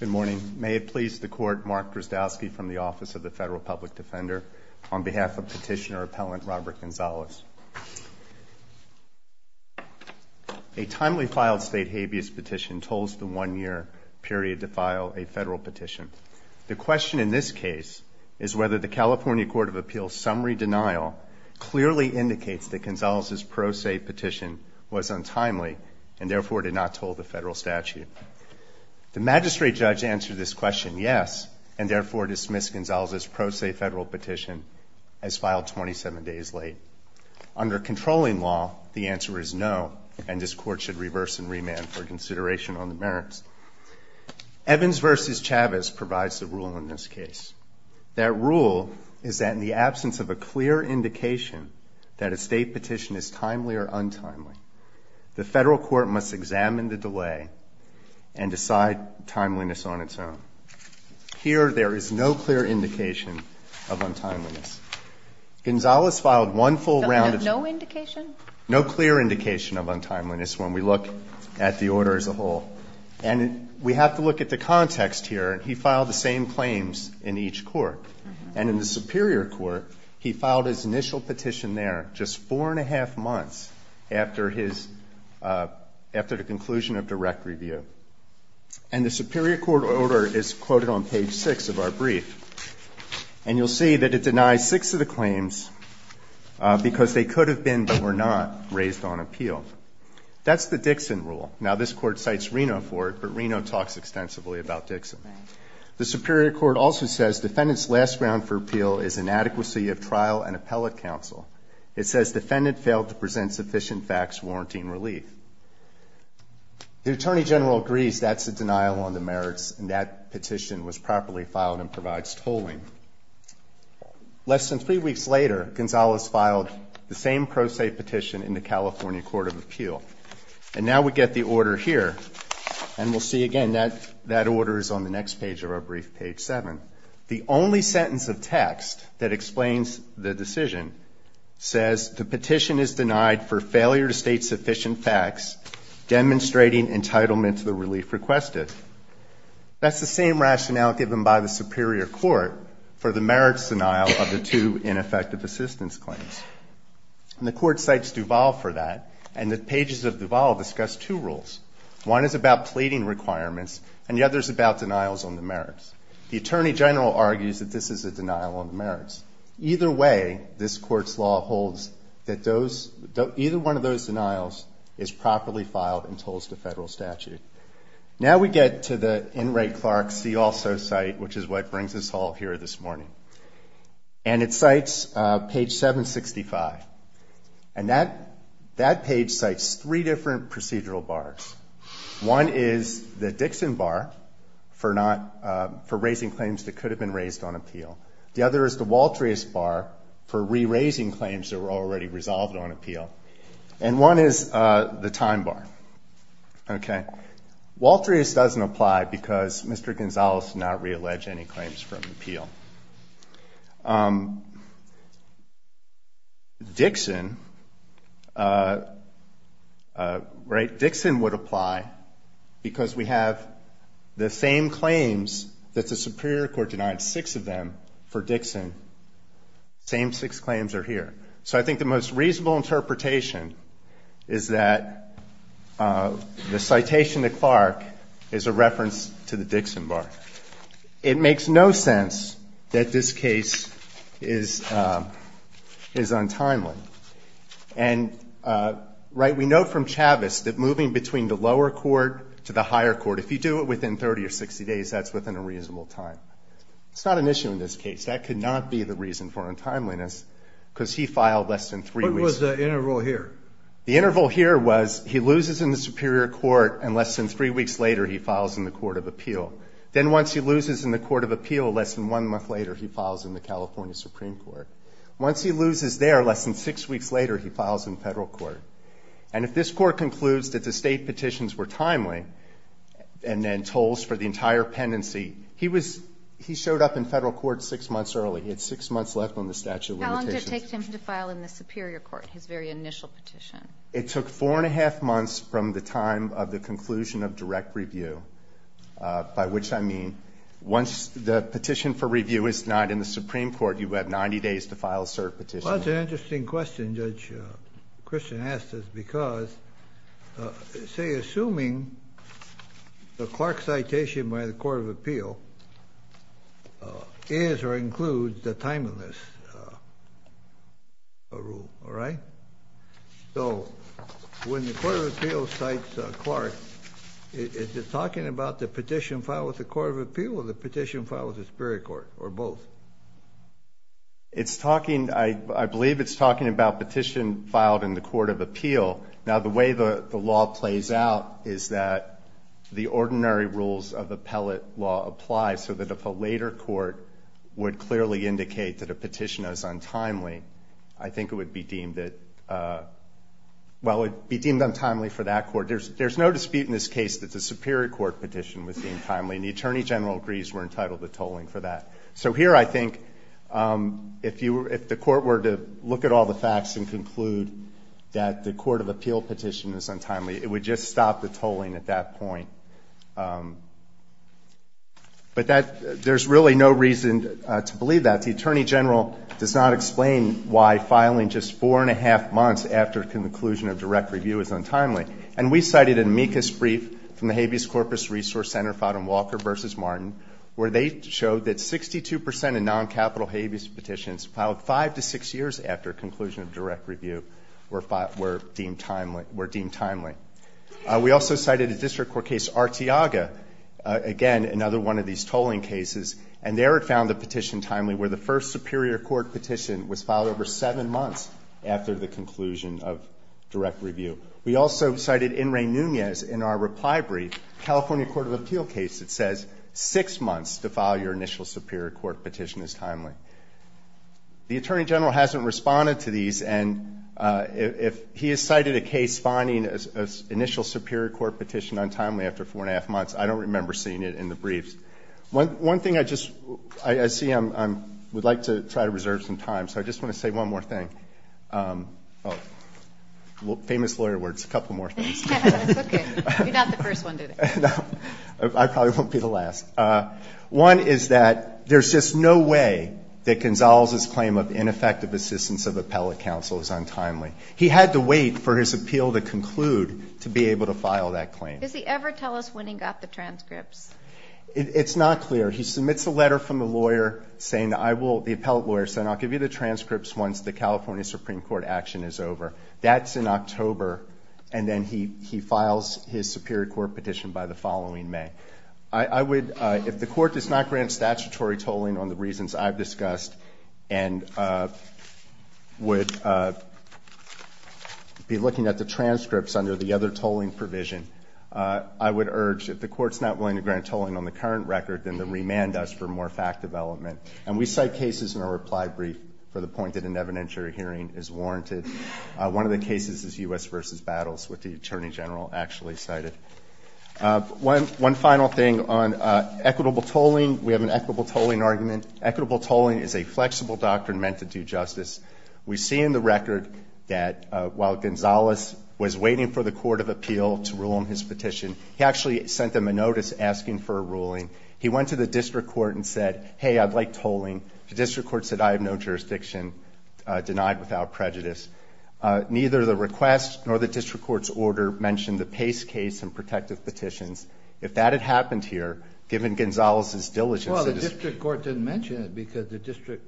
Good morning. May it please the Court, Mark Drozdowski from the Office of the Federal Public Defender, on behalf of Petitioner-Appellant Robert Gonzales. A timely filed state habeas petition tolls the one-year period to file a federal petition. The question in this case is whether the California Court of Appeals' summary denial clearly indicates that Gonzales' pro se petition was untimely and therefore did not toll the federal statute. The magistrate judge answered this question yes, and therefore dismissed Gonzales' pro se federal petition as filed 27 days late. Under controlling law, the answer is no, and this Court should reverse and remand for consideration on the merits. Evans v. Chavez provides the rule in this case. That rule is that in the absence of a clear indication that a state petition is timely or untimely, the Federal Court must examine the delay and decide timeliness on its own. Here, there is no clear indication of untimeliness. Gonzales filed one full round of no indication, no clear indication of untimeliness when we look at the order as a whole. And we have to look at the context here. He filed the same claims in each court. And in the Superior Court, he filed his initial petition there just four-and-a-half months after his, after the conclusion of direct review. And the Superior Court order is quoted on page 6 of our brief. And you'll see that it denies six of the claims because they could have been, but were not, raised on appeal. That's the Dixon rule. Now, this Court cites Reno for it, but Reno talks extensively about Dixon. The Superior Court also says defendant's last round for appeal is inadequacy of trial and appellate counsel. It says defendant failed to present sufficient facts warranting relief. The Attorney General agrees that's a denial on the merits, and that petition was properly filed and provides tolling. Less than three weeks later, Gonzales filed the same pro se petition in the California Court of Appeal. And now we get the order here. And we'll see, again, that order is on the next page of our brief, page 7. The only sentence of text that explains the decision says the petition is denied for failure to state sufficient facts demonstrating entitlement to the relief requested. That's the same rationale given by the Superior Court for the merits denial of the two ineffective assistance claims. And the Court cites Duval for that, and the pages of Duval discuss two rules. One is about pleading requirements, and the other is about denials on the merits. The Attorney General argues that this is a denial on the merits. Either way, this Court's law holds that those – either one of those denials is properly filed and tolls to Federal statute. Now we get to the N. Ray Clark's See Also site, which is what brings us all here this morning. And it cites page 765. And that page cites three different procedural bars. One is the Dixon bar for not – for raising claims that could have been raised on appeal. The other is the Waltrius bar for re-raising claims that were already resolved on appeal. And one is the time bar. Okay? Waltrius doesn't apply because Mr. Gonzalez did not re-allege any claims from appeal. Dixon, right, Dixon would apply because we have the same claims that the Superior Court denied, six of them, for Dixon. Same six claims are here. So I think the most reasonable interpretation is that the citation to Clark is a reference to the Dixon bar. It makes no sense that this case is – is untimely. And, right, we know from Chavez that moving between the lower court to the higher court, if you do it within 30 or 60 days, that's within a reasonable time. It's not an issue in this case. That could not be the reason for untimeliness because he filed less than three weeks. What was the interval here? The interval here was he loses in the Superior Court and less than three weeks later he files in the Court of Appeal. Then once he loses in the Court of Appeal, less than one month later he files in the California Supreme Court. Once he loses there, less than six weeks later he files in Federal Court. And if this Court concludes that the State petitions were timely and then tolls for the entire pendency, he was – he showed up in Federal Court six months early. He had six months left on the statute of limitations. How long did it take him to file in the Superior Court, his very initial petition? It took four and a half months from the time of the conclusion of direct review, by which I mean once the petition for review is not in the Supreme Court, you have 90 days to file a cert petition. Well, that's an interesting question Judge Christian asked us because, say, assuming the Clark citation by the Court of Appeal is or includes the timeliness rule, all right? So when the Court of Appeal cites Clark, is it talking about the petition filed with the Court of Appeal or the petition filed with the Superior Court or both? It's talking – I believe it's talking about petition filed in the Court of Appeal. Now, the way the law plays out is that the ordinary rules of appellate law apply, so that if a later court would clearly indicate that a petition is untimely, I think it would be deemed that – well, it would be deemed untimely for that court. There's no dispute in this case that the Superior Court petition was deemed timely, and the Attorney General agrees we're entitled to tolling for that. So here I think if the court were to look at all the facts and conclude that the Court of Appeal petition is untimely, it would just stop the tolling at that point. But there's really no reason to believe that. The Attorney General does not explain why filing just four and a half months after conclusion of direct review is untimely. And we cited an amicus brief from the Habeas Corpus Resource Center filed in Walker v. Martin where they showed that 62 percent of non-capital habeas petitions filed five to six years after conclusion of direct review were deemed timely. We also cited a district court case, Arteaga, again, another one of these tolling cases, and there it found the petition timely where the first Superior Court petition was filed over seven months after the conclusion of direct review. We also cited In re Nunez in our reply brief, California Court of Appeal case, that says six months to file your initial Superior Court petition is timely. The Attorney General hasn't responded to these, and if he has cited a case finding an initial Superior Court petition untimely after four and a half months, I don't remember seeing it in the briefs. One thing I just see I would like to try to reserve some time, so I just want to say one more thing. Well, famous lawyer words, a couple more things. That's okay. You're not the first one today. No, I probably won't be the last. One is that there's just no way that Gonzalez's claim of ineffective assistance of appellate counsel is untimely. He had to wait for his appeal to conclude to be able to file that claim. Does he ever tell us when he got the transcripts? It's not clear. He submits a letter from the lawyer saying that I will, the appellate lawyer, say I'll give you the transcripts once the California Supreme Court action is over. That's in October, and then he files his Superior Court petition by the following May. I would, if the Court does not grant statutory tolling on the reasons I've discussed and would be looking at the transcripts under the other tolling provision, I would urge if the Court's not willing to grant tolling on the current record, then to remand us for more fact development. And we cite cases in our reply brief for the point that an evidentiary hearing is warranted. One of the cases is U.S. v. Battles, which the Attorney General actually cited. One final thing on equitable tolling. We have an equitable tolling argument. Equitable tolling is a flexible doctrine meant to do justice. We see in the record that while Gonzalez was waiting for the Court of Appeal to rule on his petition, he actually sent them a notice asking for a ruling. He went to the district court and said, hey, I'd like tolling. The district court said, I have no jurisdiction denied without prejudice. Neither the request nor the district court's order mentioned the Pace case and protective petitions. If that had happened here, given Gonzalez's diligence, it is. Well, the district court didn't mention it because the district,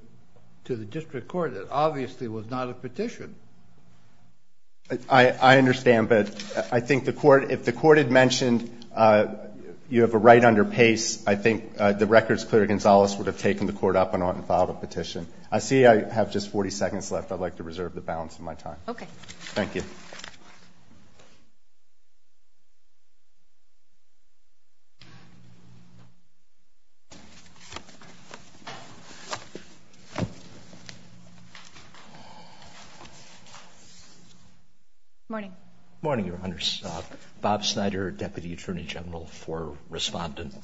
to the district court, it obviously was not a petition. I understand, but I think the court, if the court had mentioned you have a right under Pace, I think the record's clear Gonzalez would have taken the court up on it and filed a petition. I see I have just 40 seconds left. I'd like to reserve the balance of my time. Okay. Thank you. Morning. Morning, Your Honors. Bob Snyder, Deputy Attorney General for Respondent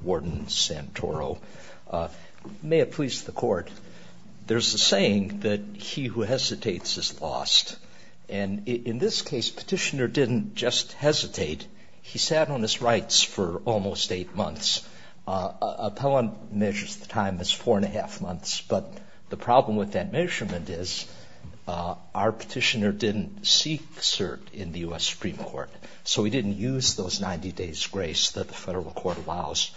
Warden Santoro. May it please the Court, there's a saying that he who hesitates is lost. And in this case, Petitioner didn't just hesitate. He sat on his rights for almost eight months. Appellant measures the time as four and a half months. But the problem with that measurement is our petitioner didn't seek cert in the U.S. Supreme Court. So he didn't use those 90 days grace that the federal court allows.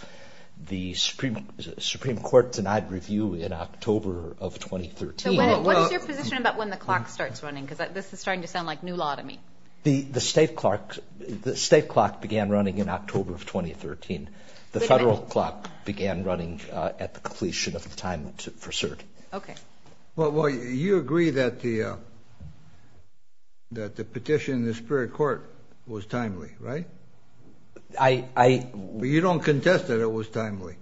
The Supreme Court denied review in October of 2013. So what is your position about when the clock starts running? Because this is starting to sound like new law to me. The state clock began running in October of 2013. The federal clock began running at the completion of the time for cert. Okay. Well, you agree that the petition in the Superior Court was timely, right? You don't contest that it was timely.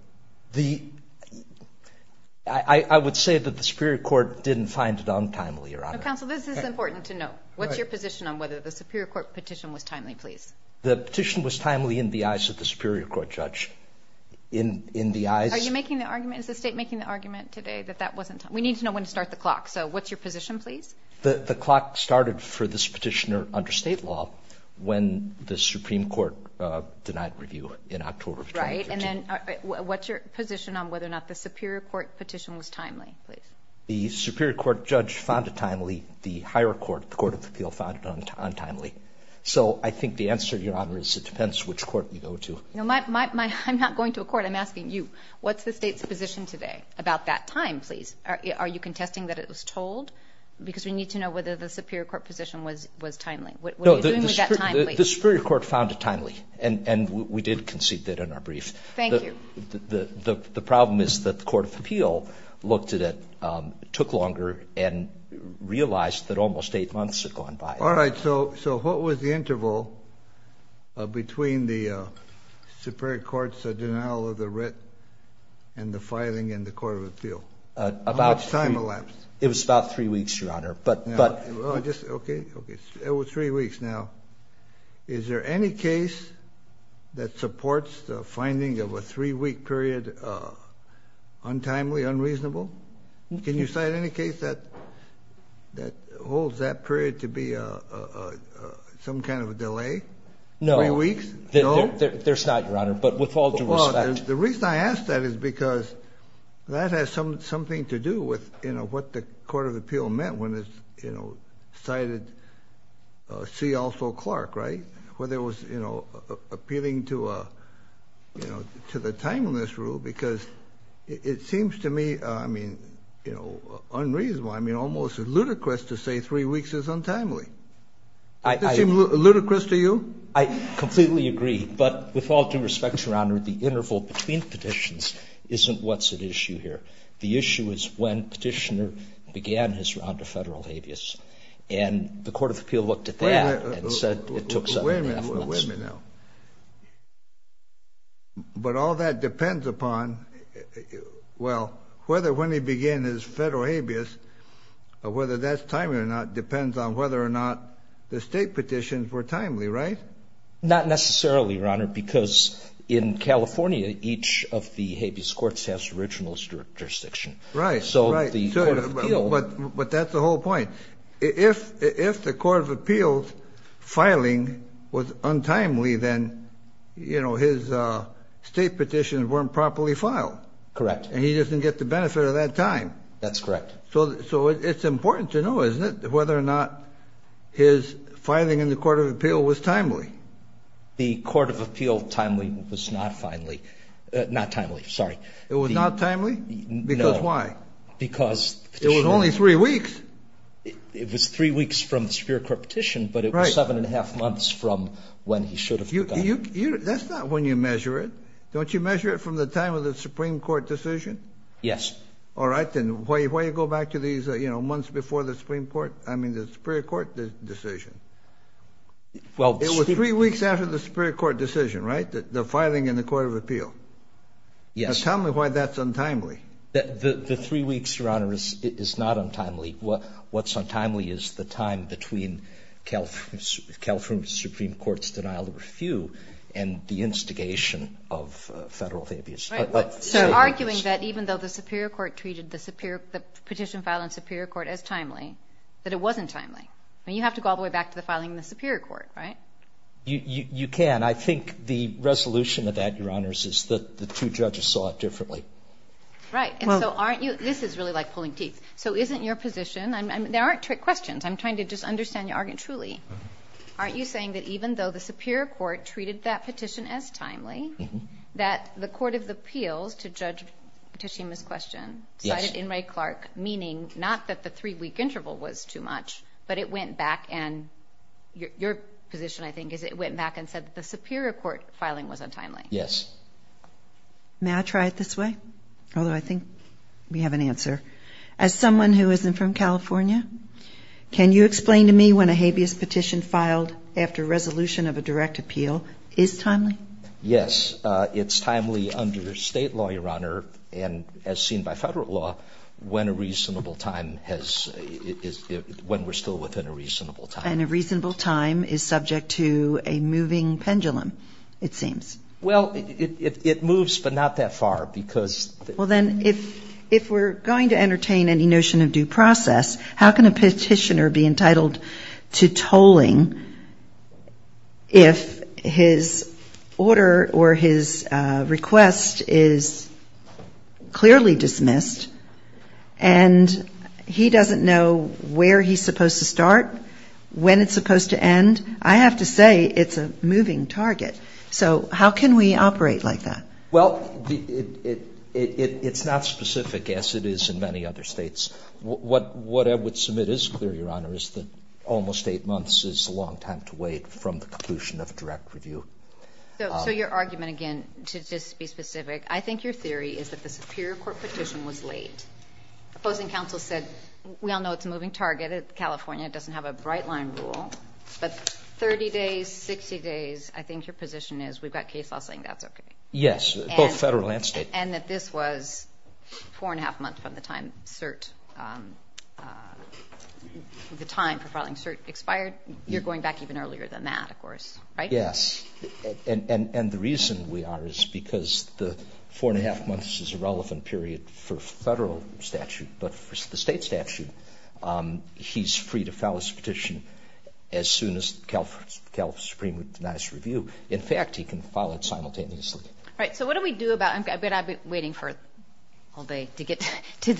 I would say that the Superior Court didn't find it untimely, Your Honor. Counsel, this is important to know. The petition was timely in the eyes of the Superior Court judge. Are you making the argument? Is the state making the argument today that that wasn't timely? We need to know when to start the clock. So what's your position, please? The clock started for this petitioner under state law when the Supreme Court denied review in October of 2013. Right. And then what's your position on whether or not the Superior Court petition was timely, please? The Superior Court judge found it timely. The higher court, the Court of Appeal, found it untimely. So I think the answer, Your Honor, is it depends which court you go to. I'm not going to a court. I'm asking you. What's the state's position today about that time, please? Are you contesting that it was told? Because we need to know whether the Superior Court position was timely. No, the Superior Court found it timely, and we did concede that in our brief. Thank you. The problem is that the Court of Appeal looked at it, took longer, and realized that almost eight months had gone by. All right. So what was the interval between the Superior Court's denial of the writ and the filing in the Court of Appeal? How much time elapsed? It was about three weeks, Your Honor. Okay. It was three weeks. Now, is there any case that supports the finding of a three-week period untimely, unreasonable? Can you cite any case that holds that period to be some kind of a delay? No. Three weeks? No? There's not, Your Honor, but with all due respect. Well, the reason I ask that is because that has something to do with, you know, what the Court of Appeal meant when it, you know, cited C. to the timeliness rule, because it seems to me, I mean, you know, unreasonable. I mean, almost ludicrous to say three weeks is untimely. Does it seem ludicrous to you? I completely agree. But with all due respect, Your Honor, the interval between petitions isn't what's at issue here. The issue is when Petitioner began his round of Federal habeas. And the Court of Appeal looked at that and said it took seven and a half months. Wait a minute now. But all that depends upon, well, whether when he began his Federal habeas, whether that's timely or not depends on whether or not the state petitions were timely, right? Not necessarily, Your Honor, because in California, each of the habeas courts has original jurisdiction. Right, right. So the Court of Appeal. But that's the whole point. If the Court of Appeal's filing was untimely, then, you know, his state petitions weren't properly filed. Correct. And he doesn't get the benefit of that time. That's correct. So it's important to know, isn't it, whether or not his filing in the Court of Appeal was timely? The Court of Appeal timely was not timely. Not timely, sorry. It was not timely? No. Because why? Because the petitioner. It was only three weeks. It was three weeks from the Superior Court petition, but it was seven and a half months from when he should have begun. That's not when you measure it. Don't you measure it from the time of the Supreme Court decision? Yes. All right, then. Why do you go back to these, you know, months before the Supreme Court, I mean, the Superior Court decision? It was three weeks after the Superior Court decision, right, the filing in the Court of Appeal? Yes. Now tell me why that's untimely. The three weeks, Your Honor, is not untimely. What's untimely is the time between California's Supreme Court's denial of refuse and the instigation of Federal abuse. So arguing that even though the Superior Court treated the petition filing in the Superior Court as timely, that it wasn't timely. I mean, you have to go all the way back to the filing in the Superior Court, right? You can. I think the resolution of that, Your Honors, is the two judges saw it differently. Right. And so aren't you – this is really like pulling teeth. So isn't your position – there aren't trick questions. I'm trying to just understand your argument truly. Aren't you saying that even though the Superior Court treated that petition as timely, that the Court of Appeals, to judge Tashima's question, cited Inouye Clark, meaning not that the three-week interval was too much, but it went back and – your position, I think, is it went back and said that the Superior Court filing was untimely. Yes. May I try it this way? Although I think we have an answer. As someone who isn't from California, can you explain to me when a habeas petition filed after resolution of a direct appeal is timely? It's timely under State law, Your Honor, and as seen by Federal law, when a reasonable time has – when we're still within a reasonable time. And a reasonable time is subject to a moving pendulum, it seems. Well, it moves, but not that far, because – Well, then, if we're going to entertain any notion of due process, how can a petitioner be entitled to tolling if his order or his request is clearly dismissed and he doesn't know where he's supposed to start, when it's supposed to end? I have to say it's a moving target. So how can we operate like that? Well, it's not specific, as it is in many other states. What I would submit is clear, Your Honor, is that almost eight months is a long time to wait from the conclusion of a direct review. So your argument, again, to just be specific, I think your theory is that the Superior Court petition was late. Opposing counsel said, we all know it's a moving target. California doesn't have a bright-line rule. But 30 days, 60 days, I think your position is we've got case law saying that's okay. Yes, both federal and state. And that this was four-and-a-half months from the time cert – the time for filing cert expired. You're going back even earlier than that, of course, right? Yes. And the reason we are is because the four-and-a-half months is a relevant period for federal statute. But for the state statute, he's free to file his petition as soon as California Supreme Court denies review. In fact, he can file it simultaneously. All right. So what do we do about – I've been waiting for all day to get to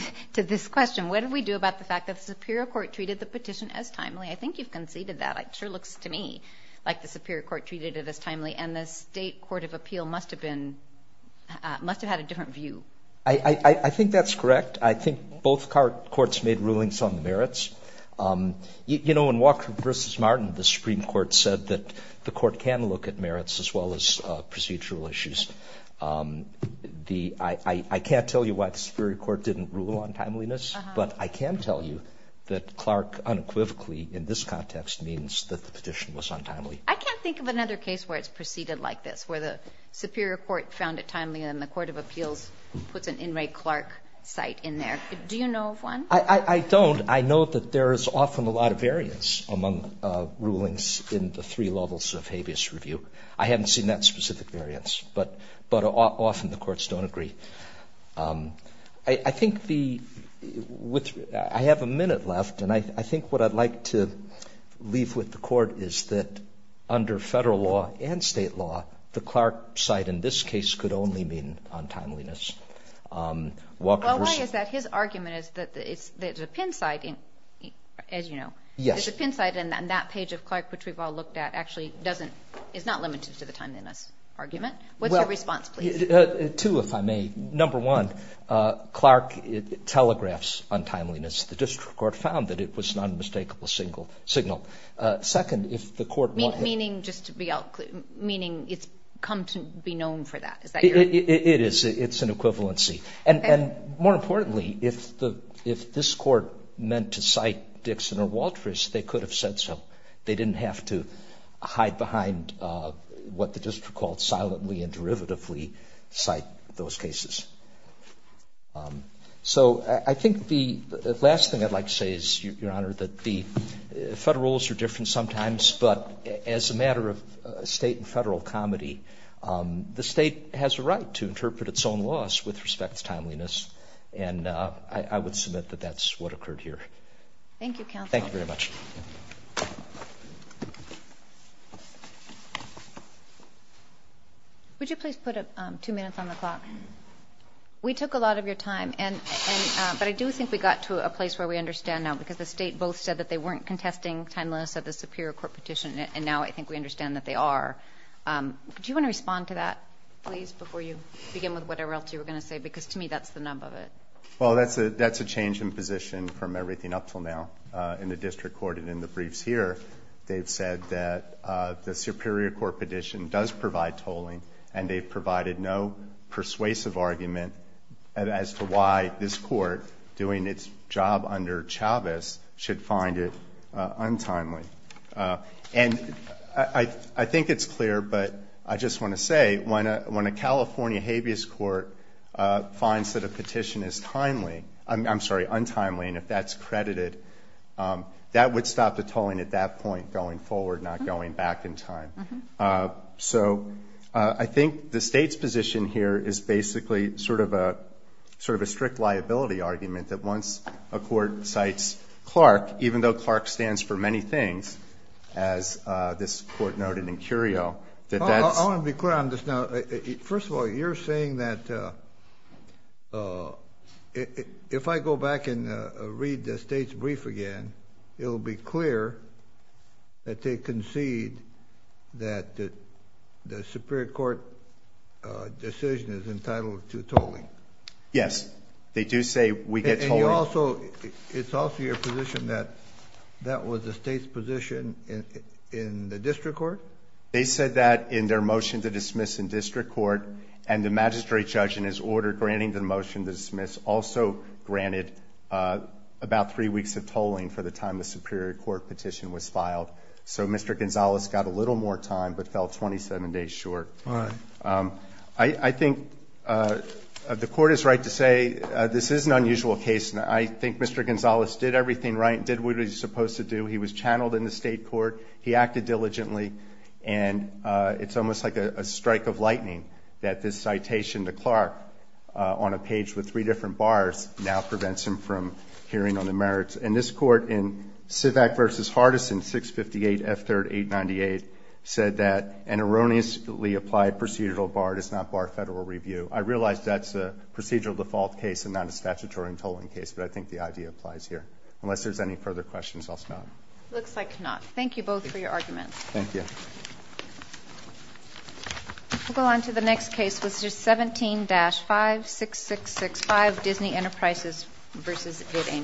this question. What do we do about the fact that the Superior Court treated the petition as timely? I think you've conceded that. It sure looks to me like the Superior Court treated it as timely. And the State Court of Appeal must have been – must have had a different view. I think that's correct. I think both courts made rulings on the merits. You know, in Walker v. Martin, the Supreme Court said that the court can look at merits as well as procedural issues. The – I can't tell you why the Superior Court didn't rule on timeliness, but I can tell you that Clark unequivocally in this context means that the petition was untimely. I can't think of another case where it's preceded like this, where the Superior Court found it timely and the Court of Appeals puts an in re Clark site in there. Do you know of one? I don't. I know that there is often a lot of variance among rulings in the three levels of habeas review. I haven't seen that specific variance. But often the courts don't agree. I think the – I have a minute left, and I think what I'd like to leave with the Court is that under Federal law and State law, the Clark site in this case could only mean untimeliness. Walker v.… Well, why is that? His argument is that it's – there's a pin site in – as you know. Yes. There's a pin site, and that page of Clark, which we've all looked at, actually doesn't – is not limited to the timeliness argument. What's your response, please? Two, if I may. Number one, Clark telegraphs untimeliness. The district court found that it was an unmistakable signal. Second, if the court… Meaning just to be – meaning it's come to be known for that. Is that your… It is. It's an equivalency. Okay. And more importantly, if this court meant to cite Dixon or Waltrus, they could have said so. They didn't have to hide behind what the district called silently and derivatively cite those cases. So I think the last thing I'd like to say is, Your Honor, that the Federal rules are different sometimes, but as a matter of state and federal comedy, the state has a right to interpret its own laws with respect to timeliness, and I would submit that that's what occurred here. Thank you, counsel. Thank you very much. Would you please put two minutes on the clock? We took a lot of your time, but I do think we got to a place where we understand now, because the state both said that they weren't contesting timeliness of the superior court petition, and now I think we understand that they are. Do you want to respond to that, please, before you begin with whatever else you were going to say? Because to me, that's the nub of it. Well, that's a change in position from everything up until now in the district court and in the briefs here. They've said that the superior court petition does provide tolling, and they've provided no persuasive argument as to why this court, doing its job under Chavez, should find it untimely. And I think it's clear, but I just want to say, when a California habeas court finds that a petition is timely, I'm sorry, untimely, and if that's credited, that would stop the tolling at that point going forward, not going back in time. So I think the state's position here is basically sort of a strict liability argument, that once a court cites Clark, even though Clark stands for many things, as this court noted in Curio. I want to be clear on this now. First of all, you're saying that if I go back and read the state's brief again, it will be clear that they concede that the superior court decision is entitled to tolling. Yes, they do say we get tolling. And you also, it's also your position that that was the state's position in the district court? They said that in their motion to dismiss in district court, and the magistrate judge in his order granting the motion to dismiss also granted about three weeks of tolling for the time the superior court petition was filed. So Mr. Gonzales got a little more time but fell 27 days short. All right. I think the court is right to say this is an unusual case, and I think Mr. Gonzales did everything right, did what he was supposed to do. He was channeled in the state court. He acted diligently. And it's almost like a strike of lightning that this citation to Clark on a page with three different bars now prevents him from hearing on the merits. And this court in Sivak v. Hardison, 658 F3rd 898, said that an erroneously applied procedural bar does not bar federal review. I realize that's a procedural default case and not a statutory tolling case, but I think the idea applies here. Unless there's any further questions, I'll stop. It looks like not. Thank you both for your arguments. Thank you. We'll go on to the next case, Mr. 17-56665, Disney Enterprises v. Ed Ames.